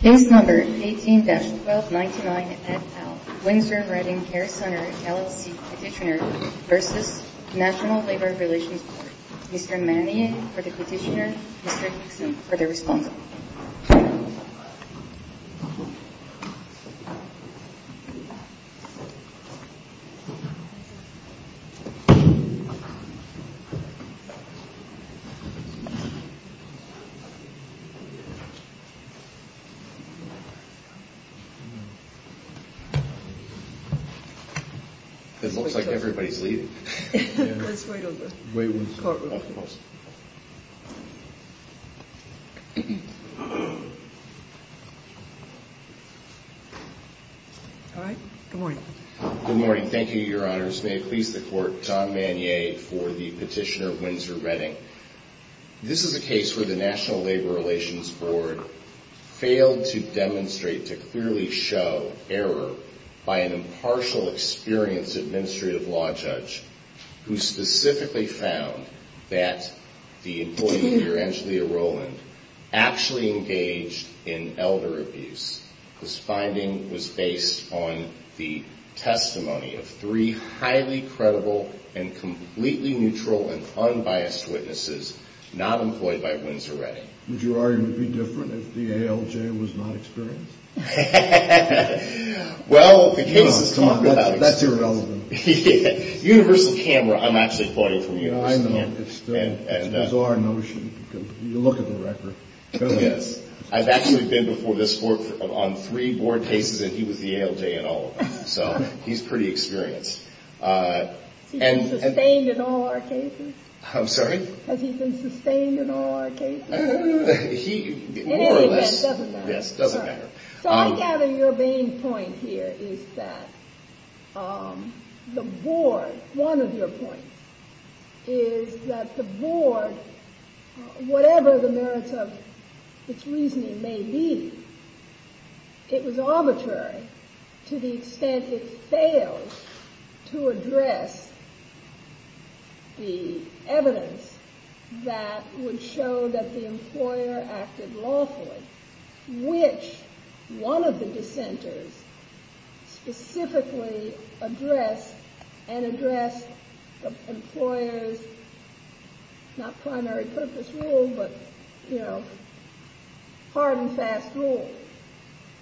Case No. 18-1299 et al., Winsor & Redding Care Center, LLC, Petitioner v. National Labor Relations Board. Mr. Manning for the Petitioner, Mr. Hickson for the Respondent. Good morning. Thank you, Your Honors. May it please the Court, John Mannier for the Petitioner, Winsor & Redding. This is a case where the National Labor Relations Board failed to demonstrate, to clearly show, error by an impartial, experienced administrative law judge who specifically found that the employee, unbiased witnesses not employed by Winsor & Redding. Would you argue it would be different if the ALJ was not experienced? Well, the case is taught without experience. That's irrelevant. Universal camera, I'm actually quoting from you. I know, it's still a bizarre notion. You look at the record. I've actually been before this Court on three board cases and he was the ALJ in all of them. So, he's pretty experienced. Has he been sustained in all our cases? I'm sorry? Has he been sustained in all our cases? In any event, it doesn't matter. So, I gather your main point here is that the board, one of your points, is that the board, whatever the merits of its reasoning may be, it was arbitrary to the extent it failed to address the evidence that would show that the employer acted lawfully, which one of the dissenters specifically addressed and addressed the employer's, not primary purpose rule, but, you know, hard and fast rule.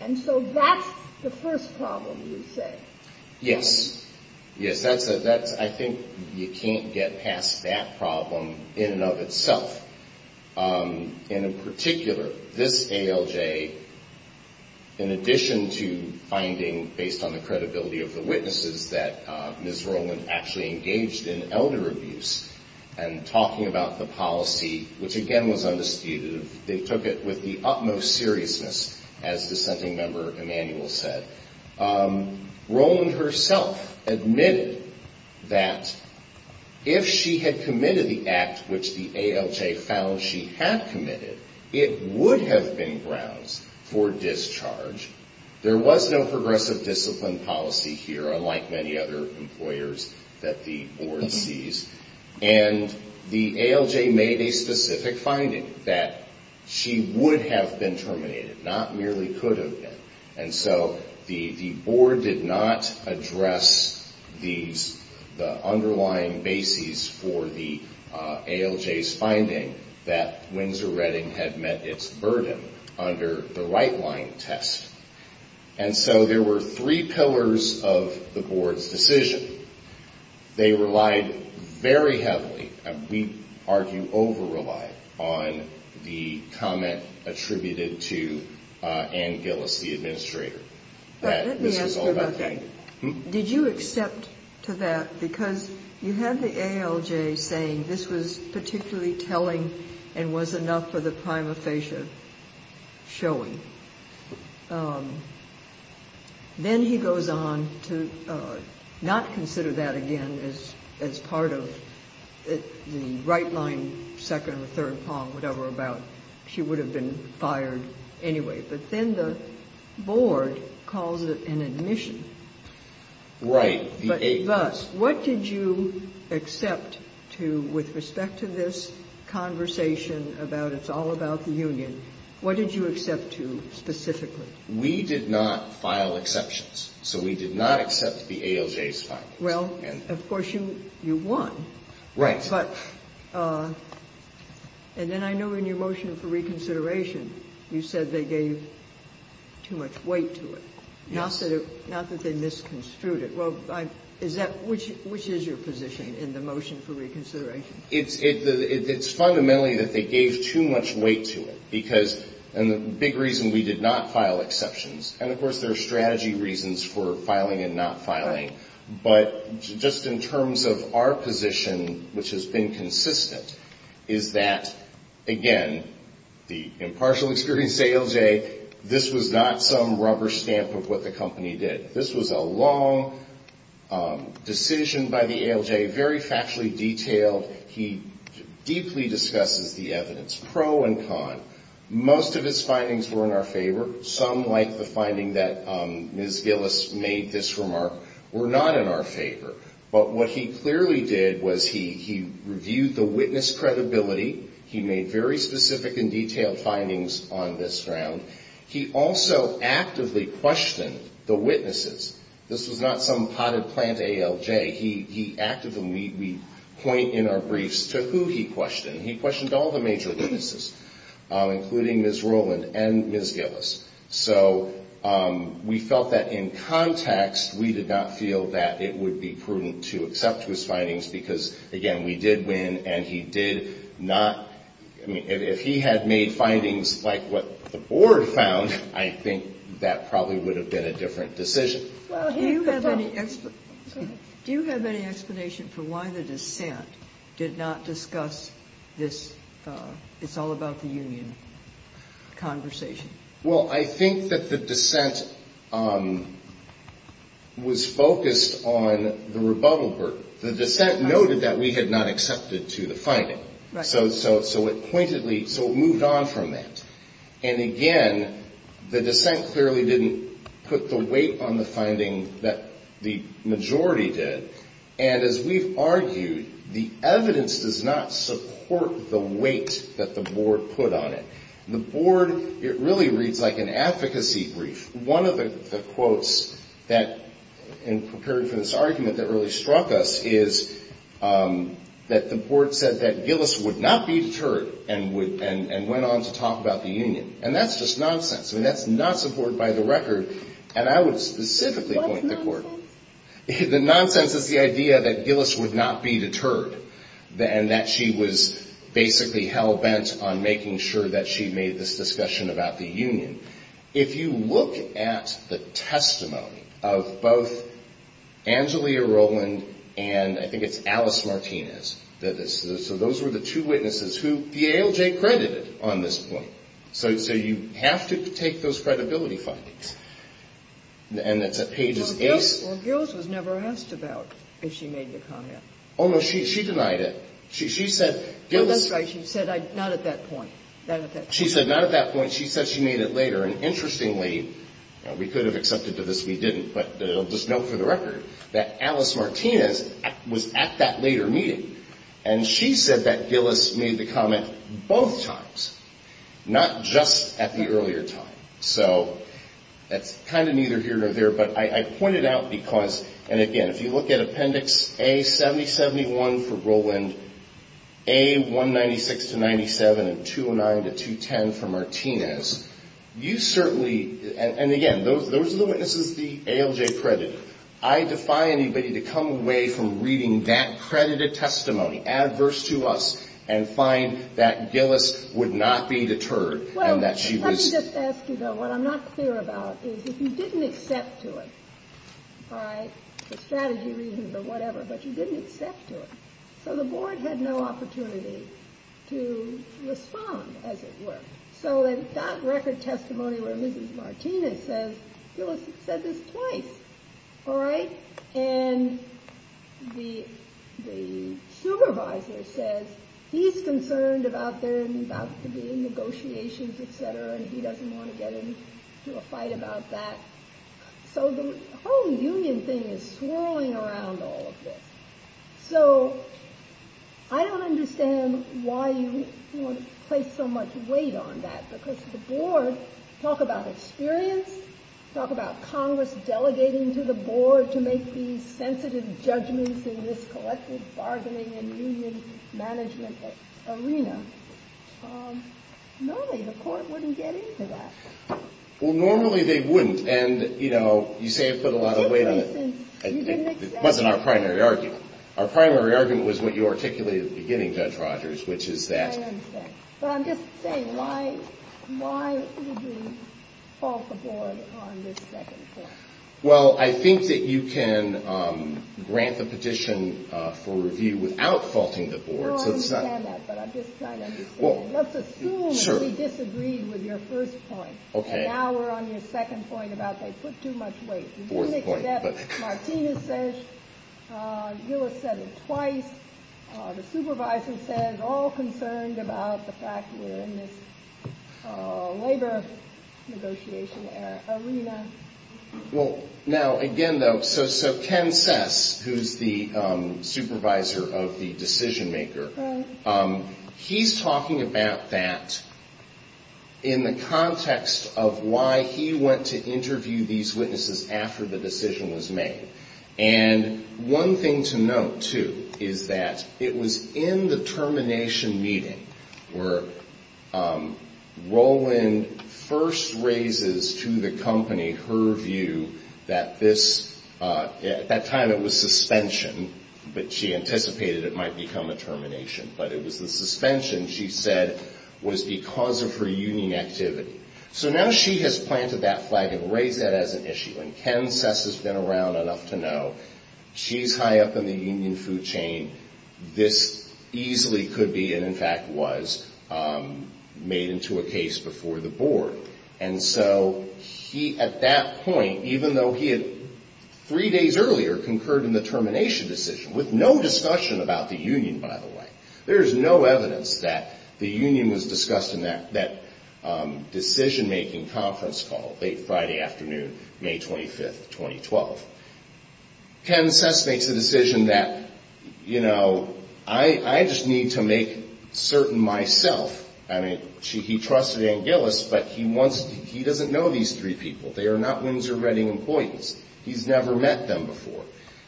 And so, that's the first problem, you say? Yes. Yes, I think you can't get past that problem in and of itself. In particular, this ALJ, in addition to finding, based on the credibility of the witnesses, that Ms. Rowland actually engaged in elder abuse and talking about the policy, which again was undisputed, they took it with the utmost seriousness, as dissenting member Emanuel said. Rowland herself admitted that if she had committed the act which the ALJ found she had committed, it would have been grounds for discharge. There was no progressive discipline policy here, unlike many other employers that the board sees, and the ALJ made a specific finding that she would have been terminated, not merely could have been. And so, the board did not address these, the underlying bases for the ALJ's finding that Windsor-Reading had met its burden under the right-line test. And so, there were three pillars of the board's decision. Let me ask you about that. Did you accept to that, because you had the ALJ saying this was particularly telling and was enough for the prima facie showing. Then he goes on to not consider that again as part of the right-line second or third palm, whatever about she would have been fired anyway. But then the board calls it an admission. Right. But thus, what did you accept to, with respect to this conversation about it's all about the union, what did you accept to specifically? We did not file exceptions, so we did not accept the ALJ's findings. Well, of course, you won. Right. But, and then I know in your motion for reconsideration, you said they gave too much weight to it. Yes. Not that they misconstrued it. Well, is that, which is your position in the motion for reconsideration? It's fundamentally that they gave too much weight to it, because, and the big reason we did not file exceptions, and of course, there are strategy reasons for filing and not filing. Right. But just in terms of our position, which has been consistent, is that, again, the impartial experience of ALJ, this was not some rubber stamp of what the company did. This was a long decision by the ALJ, very factually detailed. He deeply discusses the evidence, pro and con. Most of his findings were in our favor. Some, like the finding that Ms. Gillis made this remark, were not in our favor. But what he clearly did was he reviewed the witness credibility. He made very specific and detailed findings on this ground. He also actively questioned the witnesses. This was not some potted plant ALJ. He actively, we point in our briefs to who he questioned. He questioned all the major witnesses, including Ms. Rowland and Ms. Gillis. So we felt that in context, we did not feel that it would be prudent to accept his findings, because, again, we did win, and he did not, I mean, if he had made findings like what the board found, I think that probably would have been a different decision. Do you have any explanation for why the dissent did not discuss this it's all about the union conversation? Well, I think that the dissent was focused on the rebuttal burden. The dissent noted that we had not accepted to the finding. So it pointedly, so it moved on from that. And again, the dissent clearly didn't put the weight on the finding that the majority did. And as we've argued, the evidence does not support the weight that the board put on it. The board, it really reads like an advocacy brief. One of the quotes that in preparing for this argument that really struck us is that the board said that Gillis would not be deterred and went on to talk about the union. And that's just nonsense. I mean, that's not supported by the record. And I would specifically point the court. The nonsense is the idea that Gillis would not be deterred, and that she was basically hell-bent on making sure that she made this discussion about the union. If you look at the testimony of both Angelia Rowland and I think it's Alice Martinez, so those were the two witnesses who the ALJ credited on this point. So you have to take those credibility findings. And it's at pages eight. Well, Gillis was never asked about if she made the comment. Oh, no, she denied it. She said, Well, that's right. She said, not at that point. She said, not at that point. She said she made it later. And interestingly, we could have accepted to this we didn't, but just note for the record that Alice Martinez was at that later meeting. And she said that Gillis made the comment both times, not just at the earlier time. So that's kind of neither here nor there. But I pointed out because, and again, if you look at Appendix A-70-71 for Rowland, A-196-97 and 209-210 for Martinez, you certainly, and again, those are the witnesses the ALJ credited. I defy anybody to come away from reading that credited testimony, adverse to us, and find that Gillis would not be deterred and that she was Well, let me just ask you, though, what I'm not clear about is if you didn't accept to it, all right, the strategy reasons or whatever, but you didn't accept to it, so the board had no opportunity to respond, as it were. So in that record testimony where Mrs. Martinez says Gillis said this twice, all right, and the supervisor says he's concerned about their negotiations, etc., and he doesn't want to get into a fight about that. So the whole union thing is swirling around all of this. So I don't understand why you want to place so much weight on that, because the board, talk about experience, talk about Congress delegating to the board to make these sensitive judgments in this collective bargaining and union management arena. Normally the court wouldn't get into that. Well, normally they wouldn't, and you say I put a lot of weight on it. It wasn't our primary argument. Our primary argument was what you articulated at the beginning, Judge Rogers, which is that I understand. But I'm just saying, why would we fault the board on this second point? Well, I think that you can grant the petition for review without faulting the board. No, I understand that, but I'm just trying to understand. Let's assume that we disagreed with your first point, and now we're on your second point about they put too much weight. You didn't accept what Martinez said, Gillis said it twice, the supervisor said all concerned about the fact that we're in this labor negotiation arena. Well, now, again, though, so Ken Sess, who's the supervisor of the decision maker, he's talking about that in the context of why he went to interview these witnesses after the decision was made. And one thing to note, too, is that it was in the termination meeting where Roland first raises to the company her view that this, at that time it was suspension, but she anticipated it might become a termination. But it was the suspension, she said, was because of her union activity. So now she has planted that flag and raised that as an issue. And Ken Sess has been around enough to know she's high up in the union food chain. This easily could be, and in fact was, made into a case before the board. And so he, at that point, even though he had three days earlier concurred in the termination decision, with no discussion about the union, by the way, there is no evidence that the union was discussed in that decision making conference call late Friday afternoon, May 25th, 2012. Ken Sess makes the decision that, you know, I just need to make certain myself, I mean, he trusted Anguillus, but he wants, he doesn't know these three people. They are not Windsor Redding employees. He's never met them before.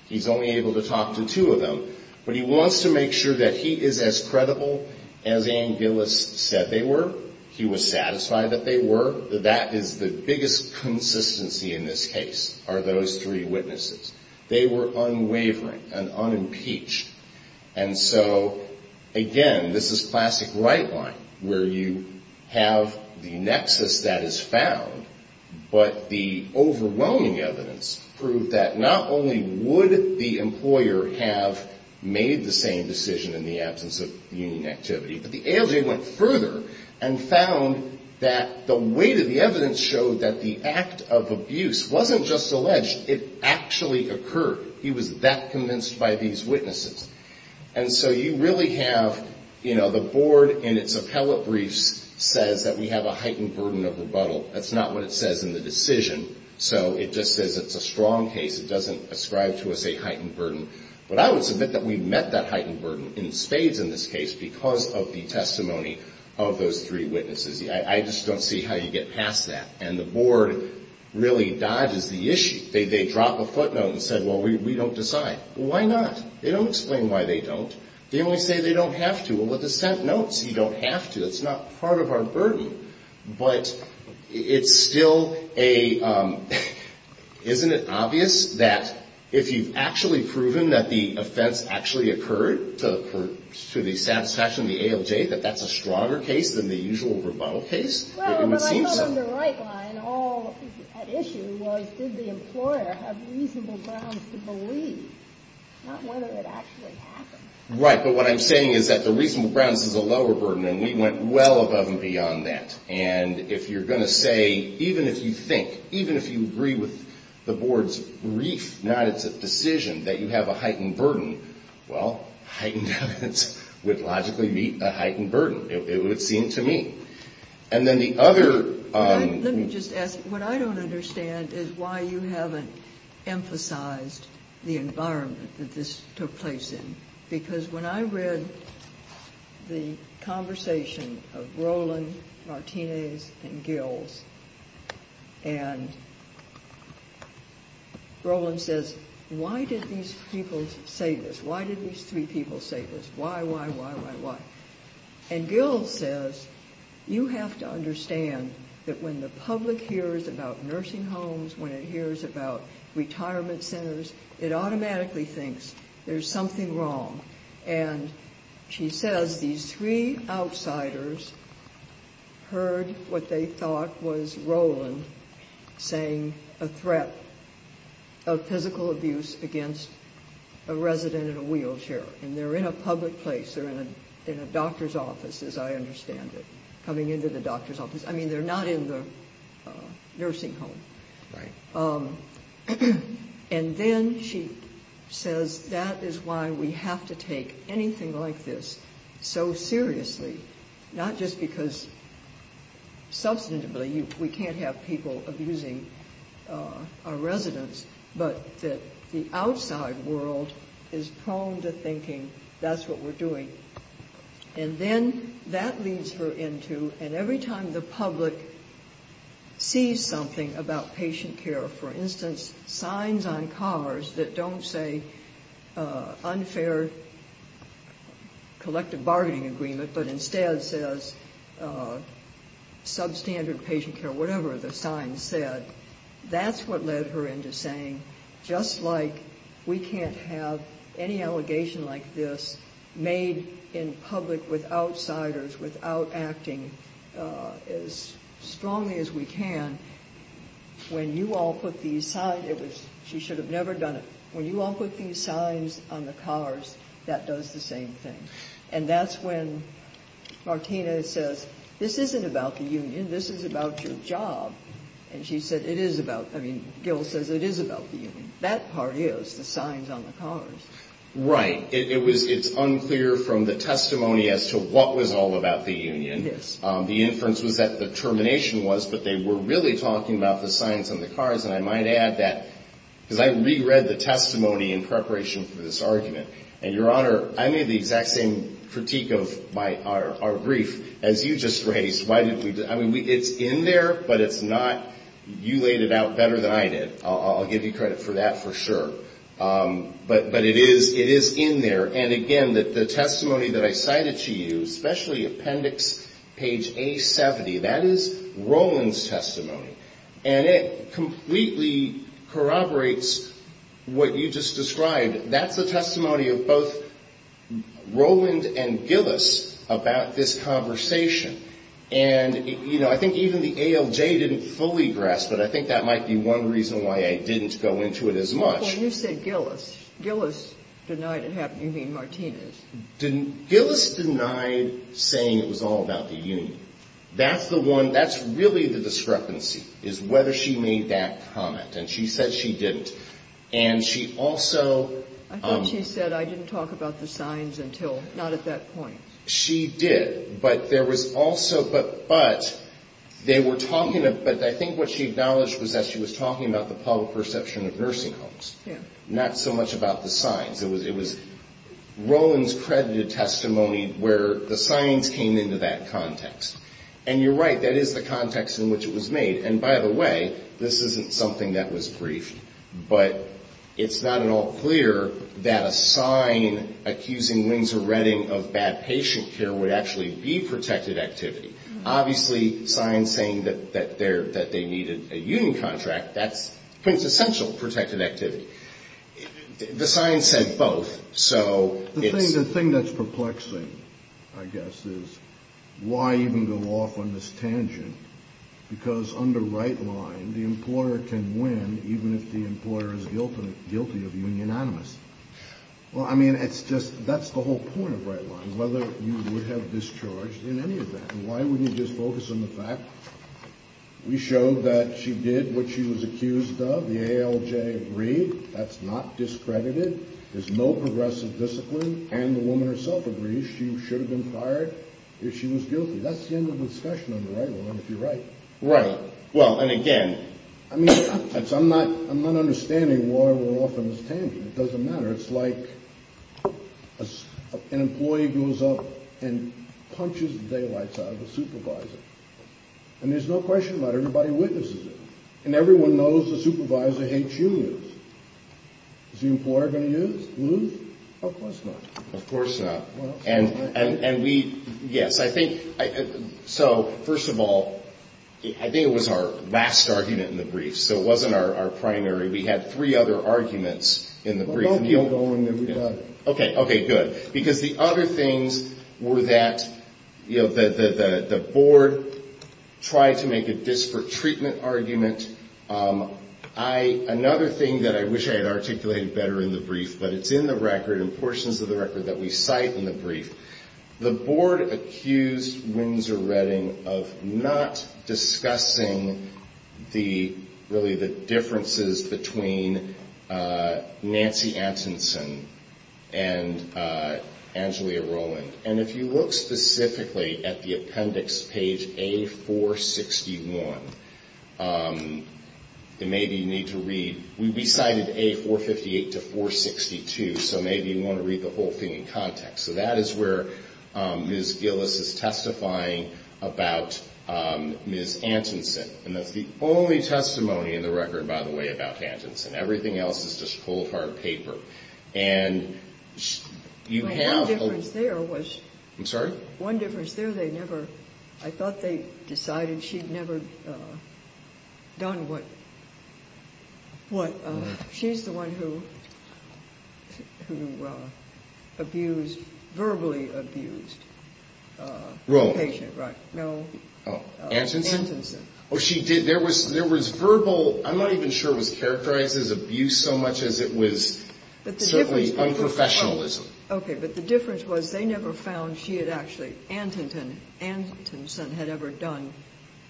He's only able to talk to two of them. But he wants to make sure that he is as credible as Anguillus said they were. He was satisfied that they were. That is the biggest consistency in this case, are those three witnesses. They were unwavering and unimpeached. And so, again, this is plastic right line, where you have the nexus that is found, but the overwhelming evidence proved that not only would the employer have made the same decision in the absence of union activity, but the ALJ went further and found that the weight of the evidence showed that the act of abuse wasn't just alleged, it actually happened. He was that convinced by these witnesses. And so you really have, you know, the board in its appellate briefs says that we have a heightened burden of rebuttal. That's not what it says in the decision. So it just says it's a strong case. It doesn't ascribe to us a heightened burden. But I would submit that we met that heightened burden in spades in this case because of the testimony of those three witnesses. I just don't see how you get past that. And the board really dodges the issue. They drop a footnote and say, well, we don't decide. Why not? They don't explain why they don't. They only say they don't have to. Well, with the sent notes, you don't have to. It's not part of our burden. But it's still a, isn't it obvious that if you've actually proven that the offense actually occurred to the satisfaction of the ALJ, that that's a stronger case than the usual rebuttal case? Right. But what I'm saying is that the reasonable grounds is a lower burden. And we went well above and beyond that. And if you're going to say, even if you think, even if you agree with the board's brief, not it's a decision that you have a heightened burden, well, heightened evidence would logically meet a heightened burden. It would seem to me. And then the other. Let me just ask what I don't understand is why you haven't emphasized the environment that this took place in. Because when I read the conversation of Roland, Martinez, and Gills. And Roland says, why did these people say this? Why did these three people say this? Why, why, why, why, why? And Gill says, you have to understand that when the public hears about nursing homes, when it hears about retirement centers, it automatically thinks there's something wrong. And she says these three outsiders heard what they thought was Roland saying a threat of physical abuse against a resident in a wheelchair. And they're in a public place. They're in a doctor's office, as I understand it. Coming into the doctor's office. I mean, they're not in the nursing home. Right. And then she says, that is why we have to take anything like this so seriously. Not just because substantively we can't have people abusing our residents, but that the outside world is prone to thinking that's what we're doing. And then that leads her into, and every time the public sees something about patient care, for instance, signs on cars that don't say unfair collective bargaining agreement, but instead says substandard patient care, whatever the sign said. That's what led her into saying, just like we can't have any allegation like this made in public with outsiders, without acting as strongly as we can, when you all put these signs, she should have never done it, when you all put these signs on the cars, that does the same thing. And that's when Martina says, this isn't about the union, this is about your job. And she said, it is about, I mean, Gil says it is about the union. That part is, the signs on the cars. I have some critique of our brief, as you just raised. It's in there, but it's not, you laid it out better than I did. I'll give you credit for that for sure. But it is in there, and again, the testimony that I cited to you, especially appendix page A70, that is Roland's testimony. And it completely corroborates what you just described. That's the testimony of both Roland and Gillis about this conversation. And, you know, I think even the ALJ didn't fully grasp it. I think that might be one reason why I didn't go into it as much. When you said Gillis, Gillis denied it happened, you mean Martina's. Gillis denied saying it was all about the union. That's the one, that's really the discrepancy, is whether she made that comment. And she said she didn't. And she also. I thought she said I didn't talk about the signs until, not at that point. She did, but there was also, but they were talking, but I think what she acknowledged was that she was talking about the public perception of nursing homes. Yeah. It was not so much about the signs. It was Roland's credited testimony where the signs came into that context. And you're right, that is the context in which it was made. And by the way, this isn't something that was briefed, but it's not at all clear that a sign accusing Windsor Redding of bad patient care would actually be protected activity. Obviously, signs saying that they needed a union contract, that's quintessential protected activity. The signs said both. The thing that's perplexing, I guess, is why even go off on this tangent? Because under right line, the employer can win even if the employer is guilty of union animus. Well, I mean, that's the whole point of right line, whether you would have discharged in any of that. And why wouldn't you just focus on the fact we showed that she did what she was accused of. The ALJ agreed. That's not discredited. There's no progressive discipline. And the woman herself agrees she should have been fired if she was guilty. That's the end of the discussion under right line, if you're right. Right. Well, and again, I mean, I'm not understanding why we're off on this tangent. It doesn't matter. It's like an employee goes up and punches the daylights out of a supervisor. And there's no question about it. Everybody witnesses it. And everyone knows the supervisor hates unions. Is the employer going to lose? Of course not. And we, yes, I think, so first of all, I think it was our last argument in the brief. So it wasn't our primary. We had three other arguments in the brief. Okay. Okay. Good. Because the other things were that, you know, the board tried to make a disparate treatment argument. I, another thing that I wish I had articulated better in the brief, but it's in the record and portions of the record that we cite in the brief. The board accused Windsor Redding of not discussing the, really the differences between Nancy Atkinson and Angelia Rowland. And if you look specifically at the appendix, page A461, maybe you need to read, we cited A458 to 462, so maybe you want to read the whole thing in context. And that's where Ms. Gillis is testifying about Ms. Atkinson. And that's the only testimony in the record, by the way, about Atkinson. Everything else is just cold hard paper. And you have I'm sorry? The difference was they never found she had actually, Atkinson had ever done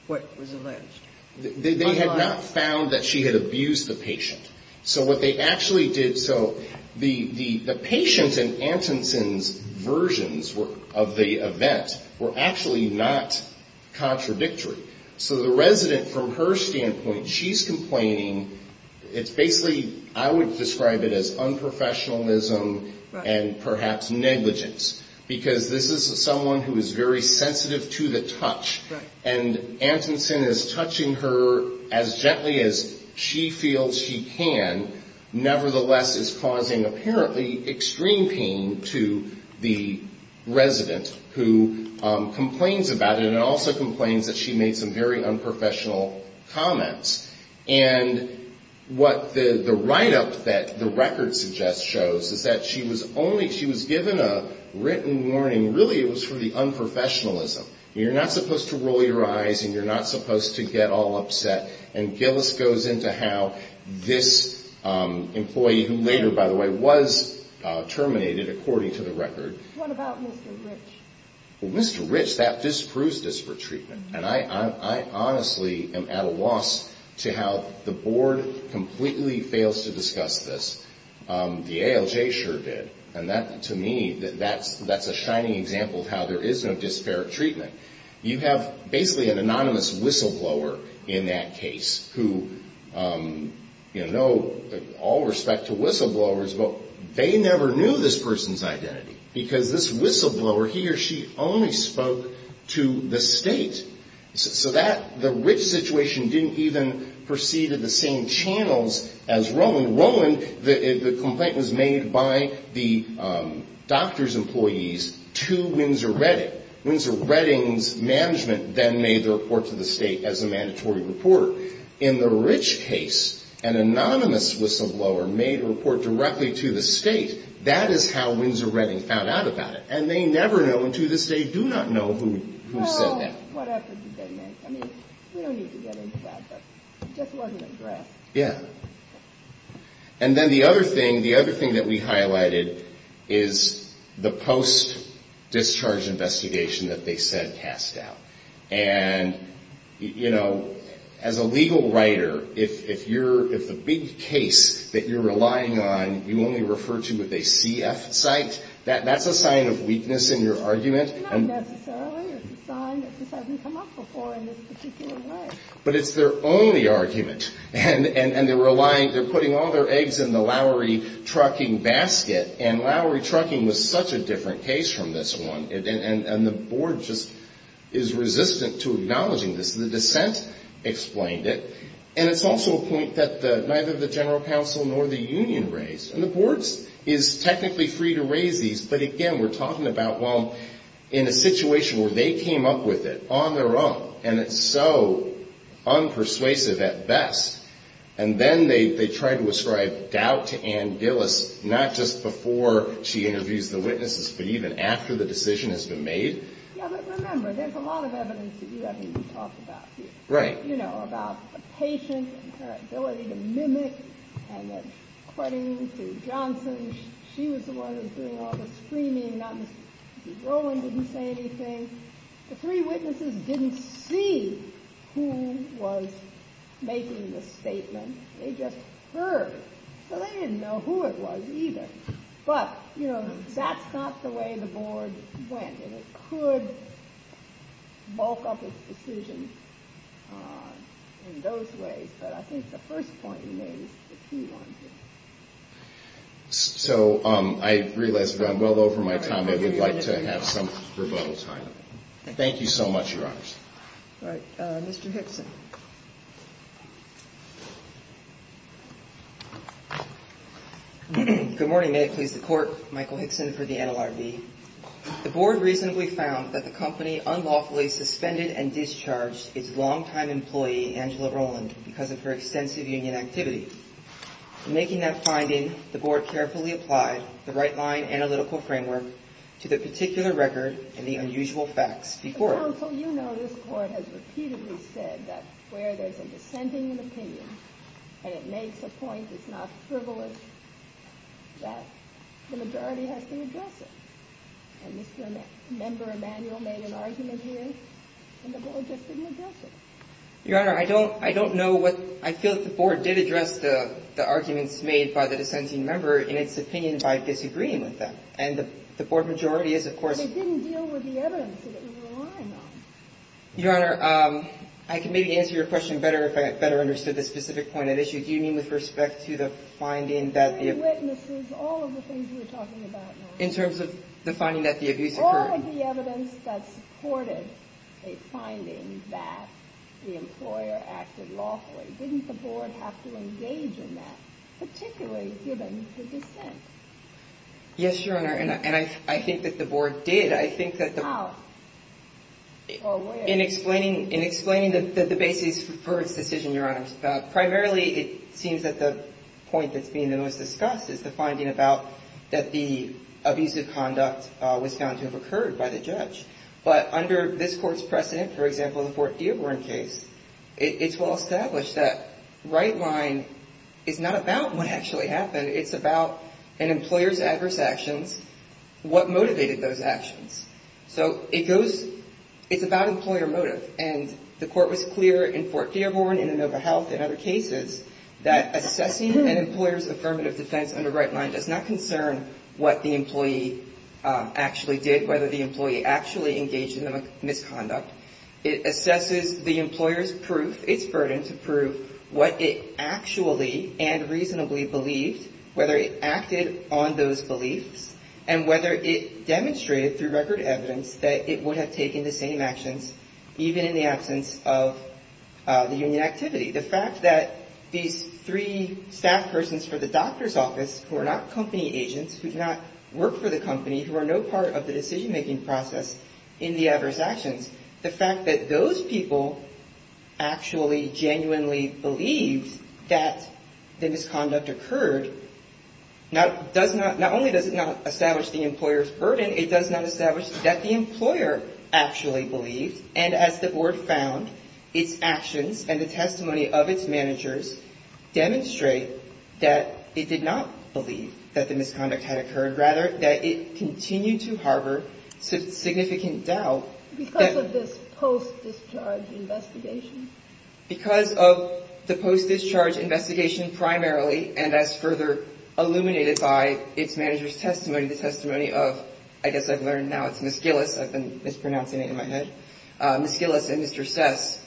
what was alleged. They had not found that she had abused the patient. So what they actually did, so the patient in Atkinson's versions of the event were actually not contradictory. So the resident, from her standpoint, she's complaining, it's basically, I would describe it as unprofessionalism and perhaps negligence. Because this is someone who is very sensitive to the touch. And Atkinson is touching her as gently as she feels she can, nevertheless is causing apparently extreme pain to the resident who complains about it and also complains that she made some very unprofessional comments. And what the write-up that the record suggests shows is that she was given a written warning, really it was for the unprofessionalism. You're not supposed to roll your eyes and you're not supposed to get all upset. And Gillis goes into how this employee, who later, by the way, was terminated, according to the record. What about Mr. Rich? Well, Mr. Rich, that disproves disparate treatment. And I honestly am at a loss to how the board completely fails to discuss this. The ALJ sure did. And that, to me, that's a shining example of how there is no disparate treatment. You have basically an anonymous whistleblower in that case who, you know, all respect to whistleblowers, but they never knew this person's identity. Because this whistleblower, he or she only spoke to the state. So that, the Rich situation didn't even proceed to the same channels as Rowland. In Rowland, the complaint was made by the doctor's employees to Windsor Redding. Windsor Redding's management then made the report to the state as a mandatory report. In the Rich case, an anonymous whistleblower made a report directly to the state. That is how Windsor Redding found out about it. And they never know, and to this day do not know who said that. And then the other thing, the other thing that we highlighted is the post-discharge investigation that they said passed out. And, you know, as a legal writer, if you're, if the big case that you're relying on, you only refer to with a CF site, that's a sign of weakness in your argument. It's not necessarily. It's a sign that this hasn't come up before in this particular way. But it's their only argument. And they're relying, they're putting all their eggs in the Lowry trucking basket. And Lowry trucking was such a different case from this one. And the board just is resistant to acknowledging this. The dissent explained it. And it's also a point that neither the general counsel nor the union raised. And the board is technically free to raise these. But again, we're talking about, well, in a situation where they came up with it on their own, and it's so unpersuasive at best, and then they try to ascribe doubt to Ann Gillis, not just before she interviews the witnesses, but even after the decision has been made. Yeah, but remember, there's a lot of evidence that you haven't talked about here. Right. So I realize that I'm well over my time. I would like to have some rebuttal time. Thank you so much, Your Honors. All right. Mr. Hickson. Good morning. May it please the court. Michael Hickson for the NLRB. The board recently found that the company unlawfully suspended and discharged its longtime employee, Angela Roland, because of her extensive union activity. Making that finding, the board carefully applied the right line analytical framework to the particular record and the unusual facts before it. Your Honor, I don't, I don't know what, I feel that the board did address the arguments made by the dissenting member in its opinion by disagreeing with them. And the board majority is, of course. Your Honor, I can maybe answer your question better if I had better understood the specific point at issue. Do you mean with respect to the finding that the witnesses, all of the things we're talking about in terms of the finding that the abuse or the evidence that supported a finding that the employer acted lawfully, didn't the board have to engage in that, particularly given the dissent? Yes, Your Honor. And I think that the board did. I think that in explaining the basis for its decision, Your Honors, primarily it seems that the point that's being the most discussed is the finding about that the abusive conduct was found to have occurred by the judge. But under this court's precedent, for example, the Fort Dearborn case, it's well established that right line is not about what actually happened. It's about an employer's adverse actions, what motivated those actions. So it goes, it's about employer motive. And the court was clear in Fort Dearborn, in Inova Health, and other cases that assessing an employer's affirmative defense under right line does not concern what the employee actually did, whether the employee actually engaged in the misconduct. It assesses the employer's proof, its burden to prove what it actually and reasonably believed, whether it acted on those beliefs, and whether it demonstrated through record evidence that it would have taken the same actions, even in the absence of the union activity. The fact that these three staff persons for the doctor's office, who are not company agents, who do not work for the company, who are no part of the decision-making process in the adverse actions, the fact that those people actually genuinely believed that the misconduct occurred, not only does it not establish the employer's burden, it does not establish that the employer actually believed. And as the board found, its actions and the testimony of its managers demonstrate that it did not believe that the misconduct had occurred. Rather, that it continued to harbor significant doubt. Because of this post-discharge investigation? Because of the post-discharge investigation primarily, and as further illuminated by its manager's testimony, the testimony of, I guess I've learned now it's Ms. Gillis, I've been mispronouncing it in my head, Ms. Gillis and Mr. Sess,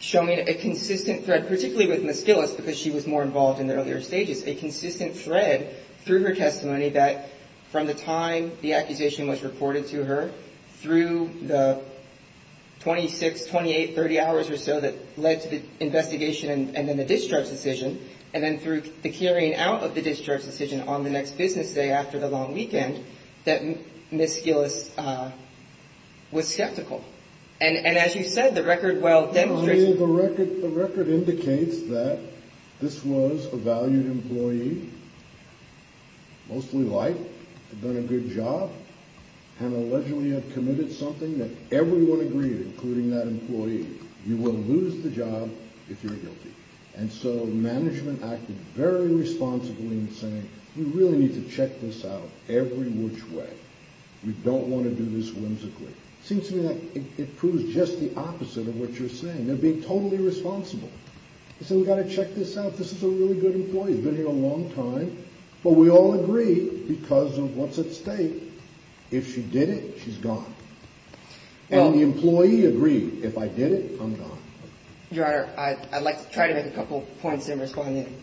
showing a consistent thread, particularly with Ms. Gillis because she was more involved in the earlier stages, a consistent thread through her testimony that from the time the accusation was reported to her, through the 26, 28, 30 hours or so that led to the investigation and then the discharge decision, and then through the carrying out of the discharge decision on the next business day after the long weekend, that Ms. Gillis was skeptical. And as you said, the record well demonstrates... that everyone agreed, including that employee, you will lose the job if you're guilty. And so management acted very responsibly in saying, we really need to check this out every which way. We don't want to do this whimsically. It seems to me that it proves just the opposite of what you're saying. They're being totally responsible. They said, we've got to check this out. This is a really good employee. He's been here a long time. But we all agree because of what's at stake, if she did it, she's gone. And the employee agreed, if I did it, I'm gone. Your Honor, I'd like to try to make a couple points in responding,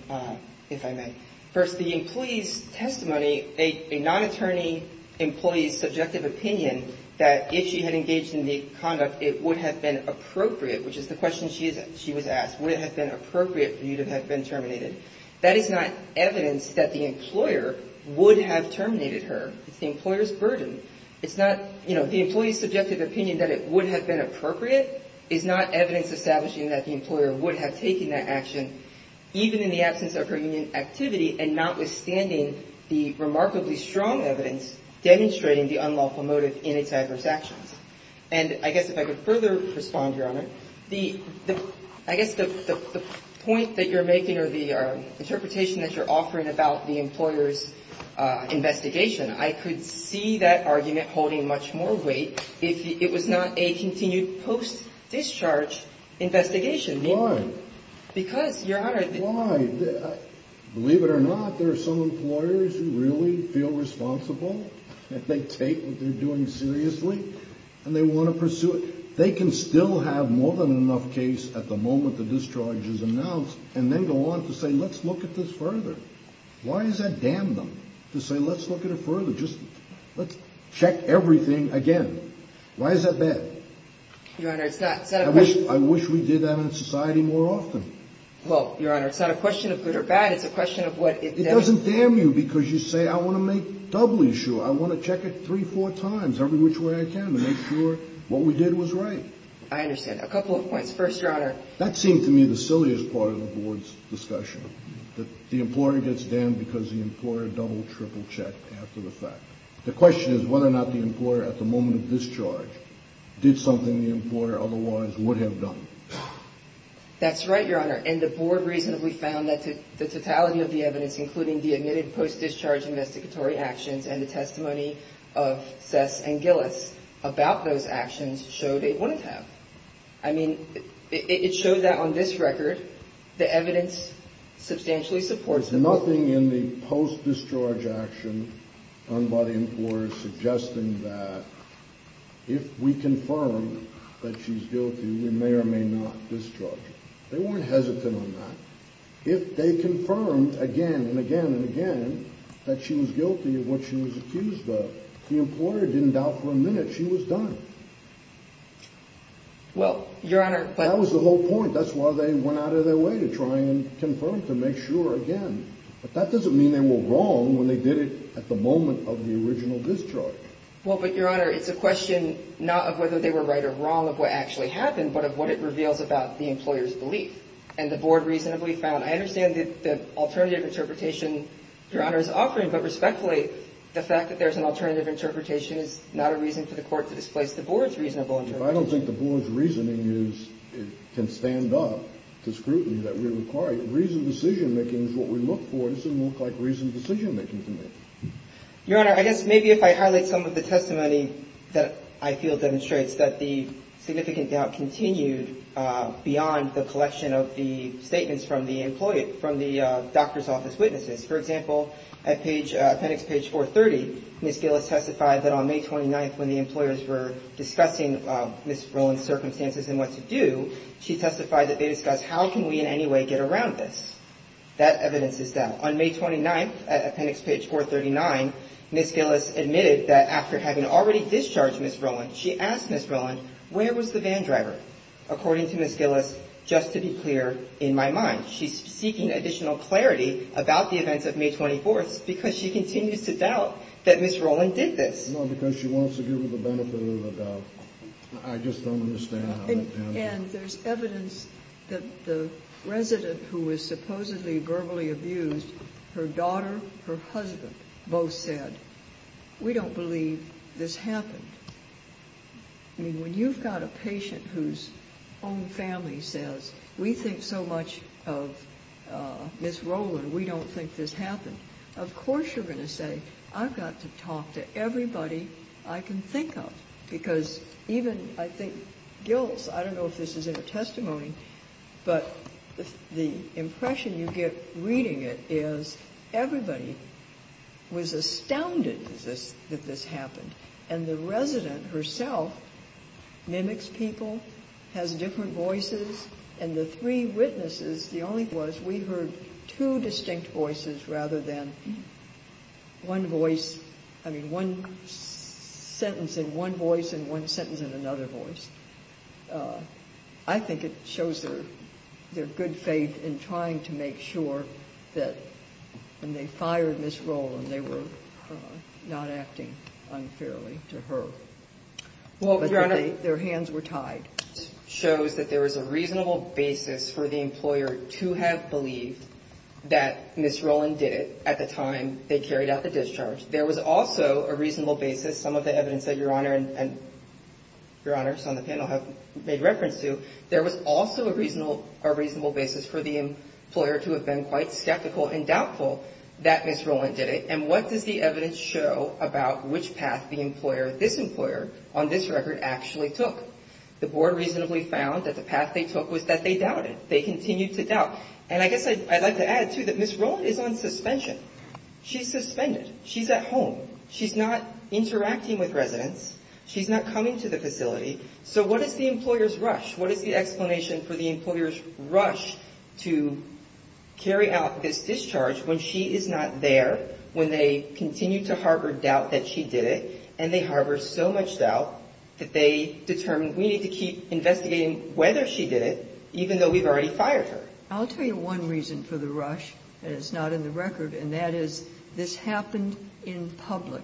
if I may. First, the employee's testimony, a non-attorney employee's subjective opinion that if she had engaged in the conduct, it would have been appropriate, which is the question she was asked. Would it have been appropriate for you to have been terminated? That is not evidence that the employer would have terminated her. It's the employer's burden. It's not, you know, the employee's subjective opinion that it would have been appropriate is not evidence establishing that the employer would have taken that action, even in the absence of her union activity and notwithstanding the remarkably strong evidence demonstrating the unlawful motive in its adverse actions. And I guess if I could further respond, Your Honor, I guess the point that you're making or the interpretation that you're offering about the employer's investigation, I could see that argument holding much more weight if it was not a continued post-discharge investigation. Why? Why? Believe it or not, there are some employers who really feel responsible and they take what they're doing seriously and they want to pursue it. They can still have more than enough case at the moment the discharge is announced and then go on to say, let's look at this further. Why is that damn them to say, let's look at it further? Just let's check everything again. Why is that bad? I wish we did that in society more often. Well, Your Honor, it's not a question of good or bad. It's a question of what it does. It doesn't damn you because you say, I want to make doubly sure. I want to check it three, four times every which way I can to make sure what we did was right. I understand. A couple of points. First, Your Honor. That seemed to me the silliest part of the board's discussion, that the employer gets damned because the employer double, triple checked after the fact. The question is whether or not the employer at the moment of discharge did something the employer otherwise would have done. That's right, Your Honor. And the board reasonably found that the totality of the evidence, including the admitted post-discharge investigatory actions and the testimony of Sess and Gillis about those actions showed it wouldn't have. I mean, it showed that on this record, the evidence substantially supports. There was nothing in the post-discharge action done by the employer suggesting that if we confirm that she's guilty, we may or may not discharge her. They weren't hesitant on that. If they confirmed again and again and again that she was guilty of what she was accused of, the employer didn't doubt for a minute she was done. Well, Your Honor. That was the whole point. That's why they went out of their way to try and confirm to make sure again. But that doesn't mean they were wrong when they did it at the moment of the original discharge. Well, but, Your Honor, it's a question not of whether they were right or wrong of what actually happened, but of what it reveals about the employer's belief. And the board reasonably found, I understand the alternative interpretation Your Honor is offering, but respectfully, the fact that there's an alternative interpretation is not a reason for the court to displace the board. I don't think the board's reasoning can stand up to scrutiny that we require. Reasoned decision-making is what we look for. It doesn't look like reasoned decision-making to me. Your Honor, I guess maybe if I highlight some of the testimony that I feel demonstrates that the significant doubt continued beyond the collection of the statements from the employee, from the doctor's office witnesses. For example, at appendix page 430, Ms. Gillis testified that on May 29th when the employers were discussing Ms. Rowland's circumstances and what to do, she testified that they discussed how can we in any way get around this. That evidence is doubt. On May 29th, appendix page 439, Ms. Gillis admitted that after having already discharged Ms. Rowland, she asked Ms. Rowland, where was the van driver? According to Ms. Gillis, just to be clear in my mind, she's seeking additional clarity about the events of May 24th because she continues to doubt that Ms. Rowland did this. No, because she wants to give her the benefit of the doubt. I just don't understand how that can be. And there's evidence that the resident who was supposedly verbally abused, her daughter, her husband, both said, we don't believe this happened. I mean, when you've got a patient whose own family says, we think so much of Ms. Rowland, we don't think this happened, of course you're going to say, I've got to talk to everybody I can think of, because even, I think, Gillis, I don't know if this is in her testimony, but the impression you get reading it is everybody was astounded that this happened. And the resident herself mimics people, has different voices, and the three witnesses, the only thing was we heard two distinct voices rather than one voice, I mean, one sentence in one voice and one sentence in another voice. I think it shows their good faith in trying to make sure that when they fired Ms. Rowland, they were not acting unfairly to her. Well, Your Honor, Their hands were tied. This evidence shows that there was a reasonable basis for the employer to have believed that Ms. Rowland did it at the time they carried out the discharge. There was also a reasonable basis, some of the evidence that Your Honor and Your Honors on the panel have made reference to, there was also a reasonable basis for the employer to have been quite skeptical and doubtful that Ms. Rowland did it. And what does the evidence show about which path the employer, this employer, on this record actually took? The board reasonably found that the path they took was that they doubted. They continued to doubt. And I guess I'd like to add, too, that Ms. Rowland is on suspension. She's suspended. She's at home. She's not interacting with residents. She's not coming to the facility. So what is the employer's rush? What is the explanation for the employer's rush to carry out this discharge when she is not there, when they continue to harbor doubt that she did it, and they harbor so much doubt that they determine we need to keep investigating whether she did it, even though we've already fired her? I'll tell you one reason for the rush, and it's not in the record, and that is this happened in public.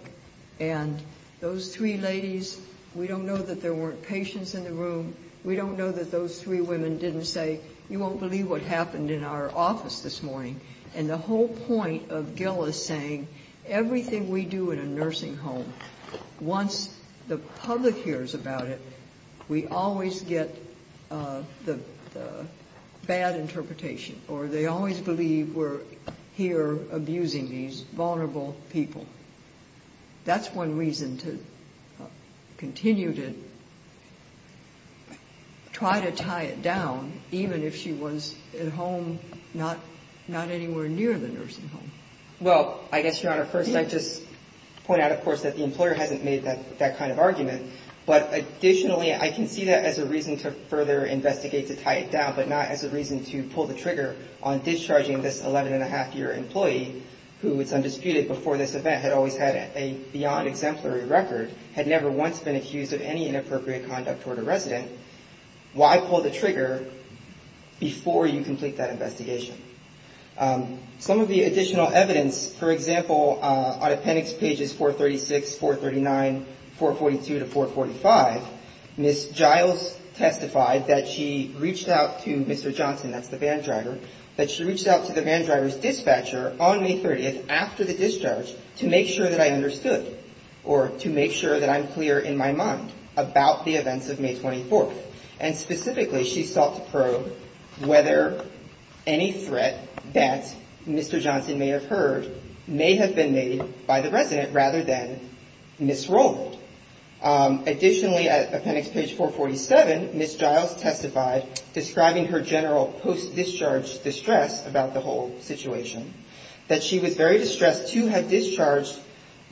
And those three ladies, we don't know that there weren't patients in the room. We don't know that those three women didn't say, you won't believe what happened in our office this morning. And the whole point of Gil is saying everything we do in a nursing home, once the public hears about it, we always get the bad interpretation, or they always believe we're here abusing these vulnerable people. That's one reason to continue to try to tie it down, even if she was at home, not anywhere near the nursing home. Well, I guess, Your Honor, first I'd just point out, of course, that the employer hasn't made that kind of argument. But additionally, I can see that as a reason to further investigate to tie it down, but not as a reason to pull the trigger on discharging this 11-and-a-half-year employee who, it's undisputed, before this event had always had a beyond exemplary record, had never once been accused of any inappropriate conduct toward a resident. Why pull the trigger before you complete that investigation? Some of the additional evidence, for example, on appendix pages 436, 439, 442 to 445, Ms. Giles testified that she reached out to Mr. Johnson, that's the van driver, that she reached out to the van driver's dispatcher on May 30th, after the discharge, to make sure that I understood, or to make sure that I'm clear in my mind about the events of May 24th. And specifically, she sought to probe whether any threat that Mr. Johnson may have heard may have been made by the resident, rather than Ms. Rowland. Additionally, at appendix page 447, Ms. Giles testified, describing her general post-discharge distress about the whole situation, that she was very distressed to have discharged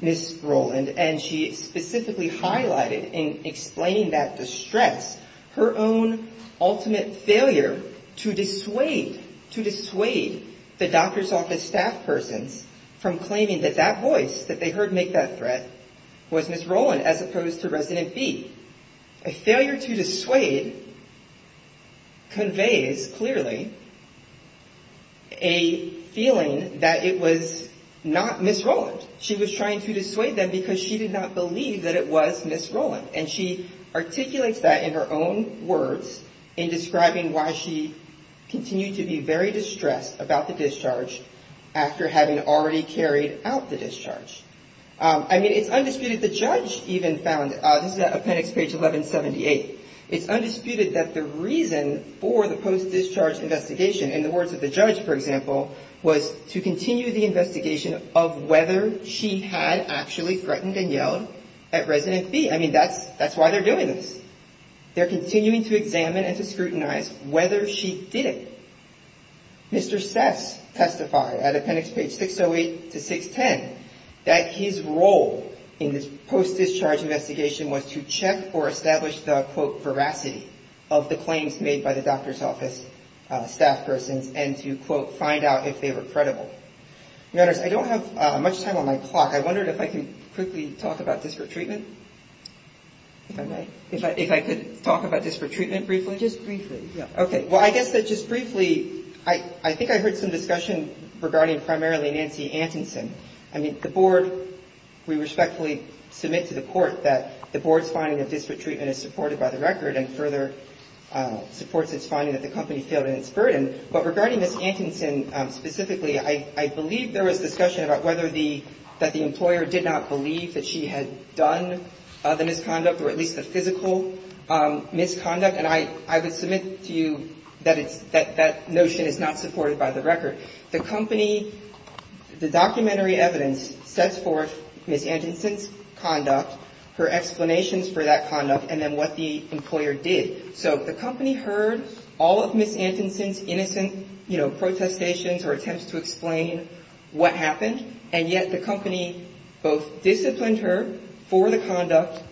Ms. Rowland. And she specifically highlighted, in explaining that distress, her own ultimate failure to dissuade the doctor's office staff persons from claiming that that voice that they heard make that threat was Ms. Rowland, as opposed to resident B. A failure to dissuade conveys, clearly, a feeling that it was not Ms. Rowland. She was trying to dissuade them because she did not believe that it was Ms. Rowland. And she articulates that in her own words, in describing why she continued to be very distressed about the discharge, after having already carried out the discharge. I mean, it's undisputed, the judge even found, this is appendix page 1178, it's undisputed that the reason for the post-discharge investigation, in the words of the judge, for example, was to continue the investigation of whether she had actually threatened and yelled at resident B. I mean, that's why they're doing this. They're continuing to examine and to scrutinize whether she did it. Mr. Sess testified, at appendix page 608 to 610, that his role in this post-discharge investigation was to check or establish the, quote, veracity of the claims made by the doctor's office staff persons, and to, quote, find out if they were credible. Your Honors, I don't have much time on my clock. I wondered if I could quickly talk about disparate treatment? If I could talk about disparate treatment briefly? Well, just briefly, yeah. Okay. Well, I guess that just briefly, I think I heard some discussion regarding primarily Nancy Antonsen. I mean, the Board, we respectfully submit to the Court that the Board's finding of disparate treatment is supported by the record and further supports its finding that the company failed in its burden. But regarding Ms. Antonsen specifically, I believe there was discussion about whether the, that the employer did not believe that she had done the misconduct, or at least the physical misconduct. And I would submit to you that it's, that that notion is not supported by the record. The company, the documentary evidence sets forth Ms. Antonsen's conduct, her explanations for that conduct, and then what the employer did. So the company heard all of Ms. Antonsen's innocent, you know, protestations or attempts to explain what happened. And yet the company both disciplined her for the conduct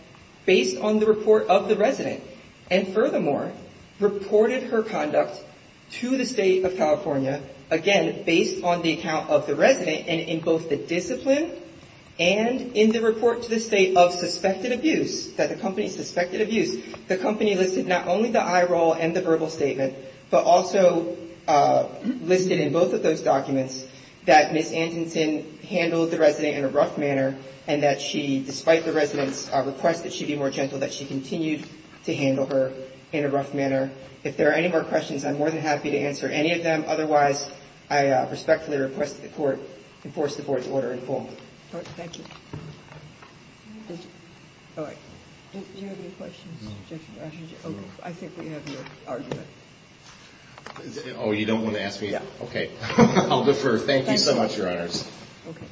based on the report of the resident, and furthermore, reported her conduct to the State of California, again, based on the account of the resident, and in both the discipline and in the report to the State of suspected abuse, that the company suspected abuse. The company listed not only the eye roll and the verbal statement, but also listed in both of those documents that Ms. Antonsen handled the resident in a rough manner, and that she, despite the resident's request that she be more gentle, that she continued to handle her in a rough manner. If there are any more questions, I'm more than happy to answer any of them. Otherwise, I respectfully request that the Court enforce the Board's order in full. Thank you. All right. Do you have any questions? I think we have your argument. Oh, you don't want to ask me? Yeah. Okay. I'll defer. Thank you so much, Your Honors. Okay.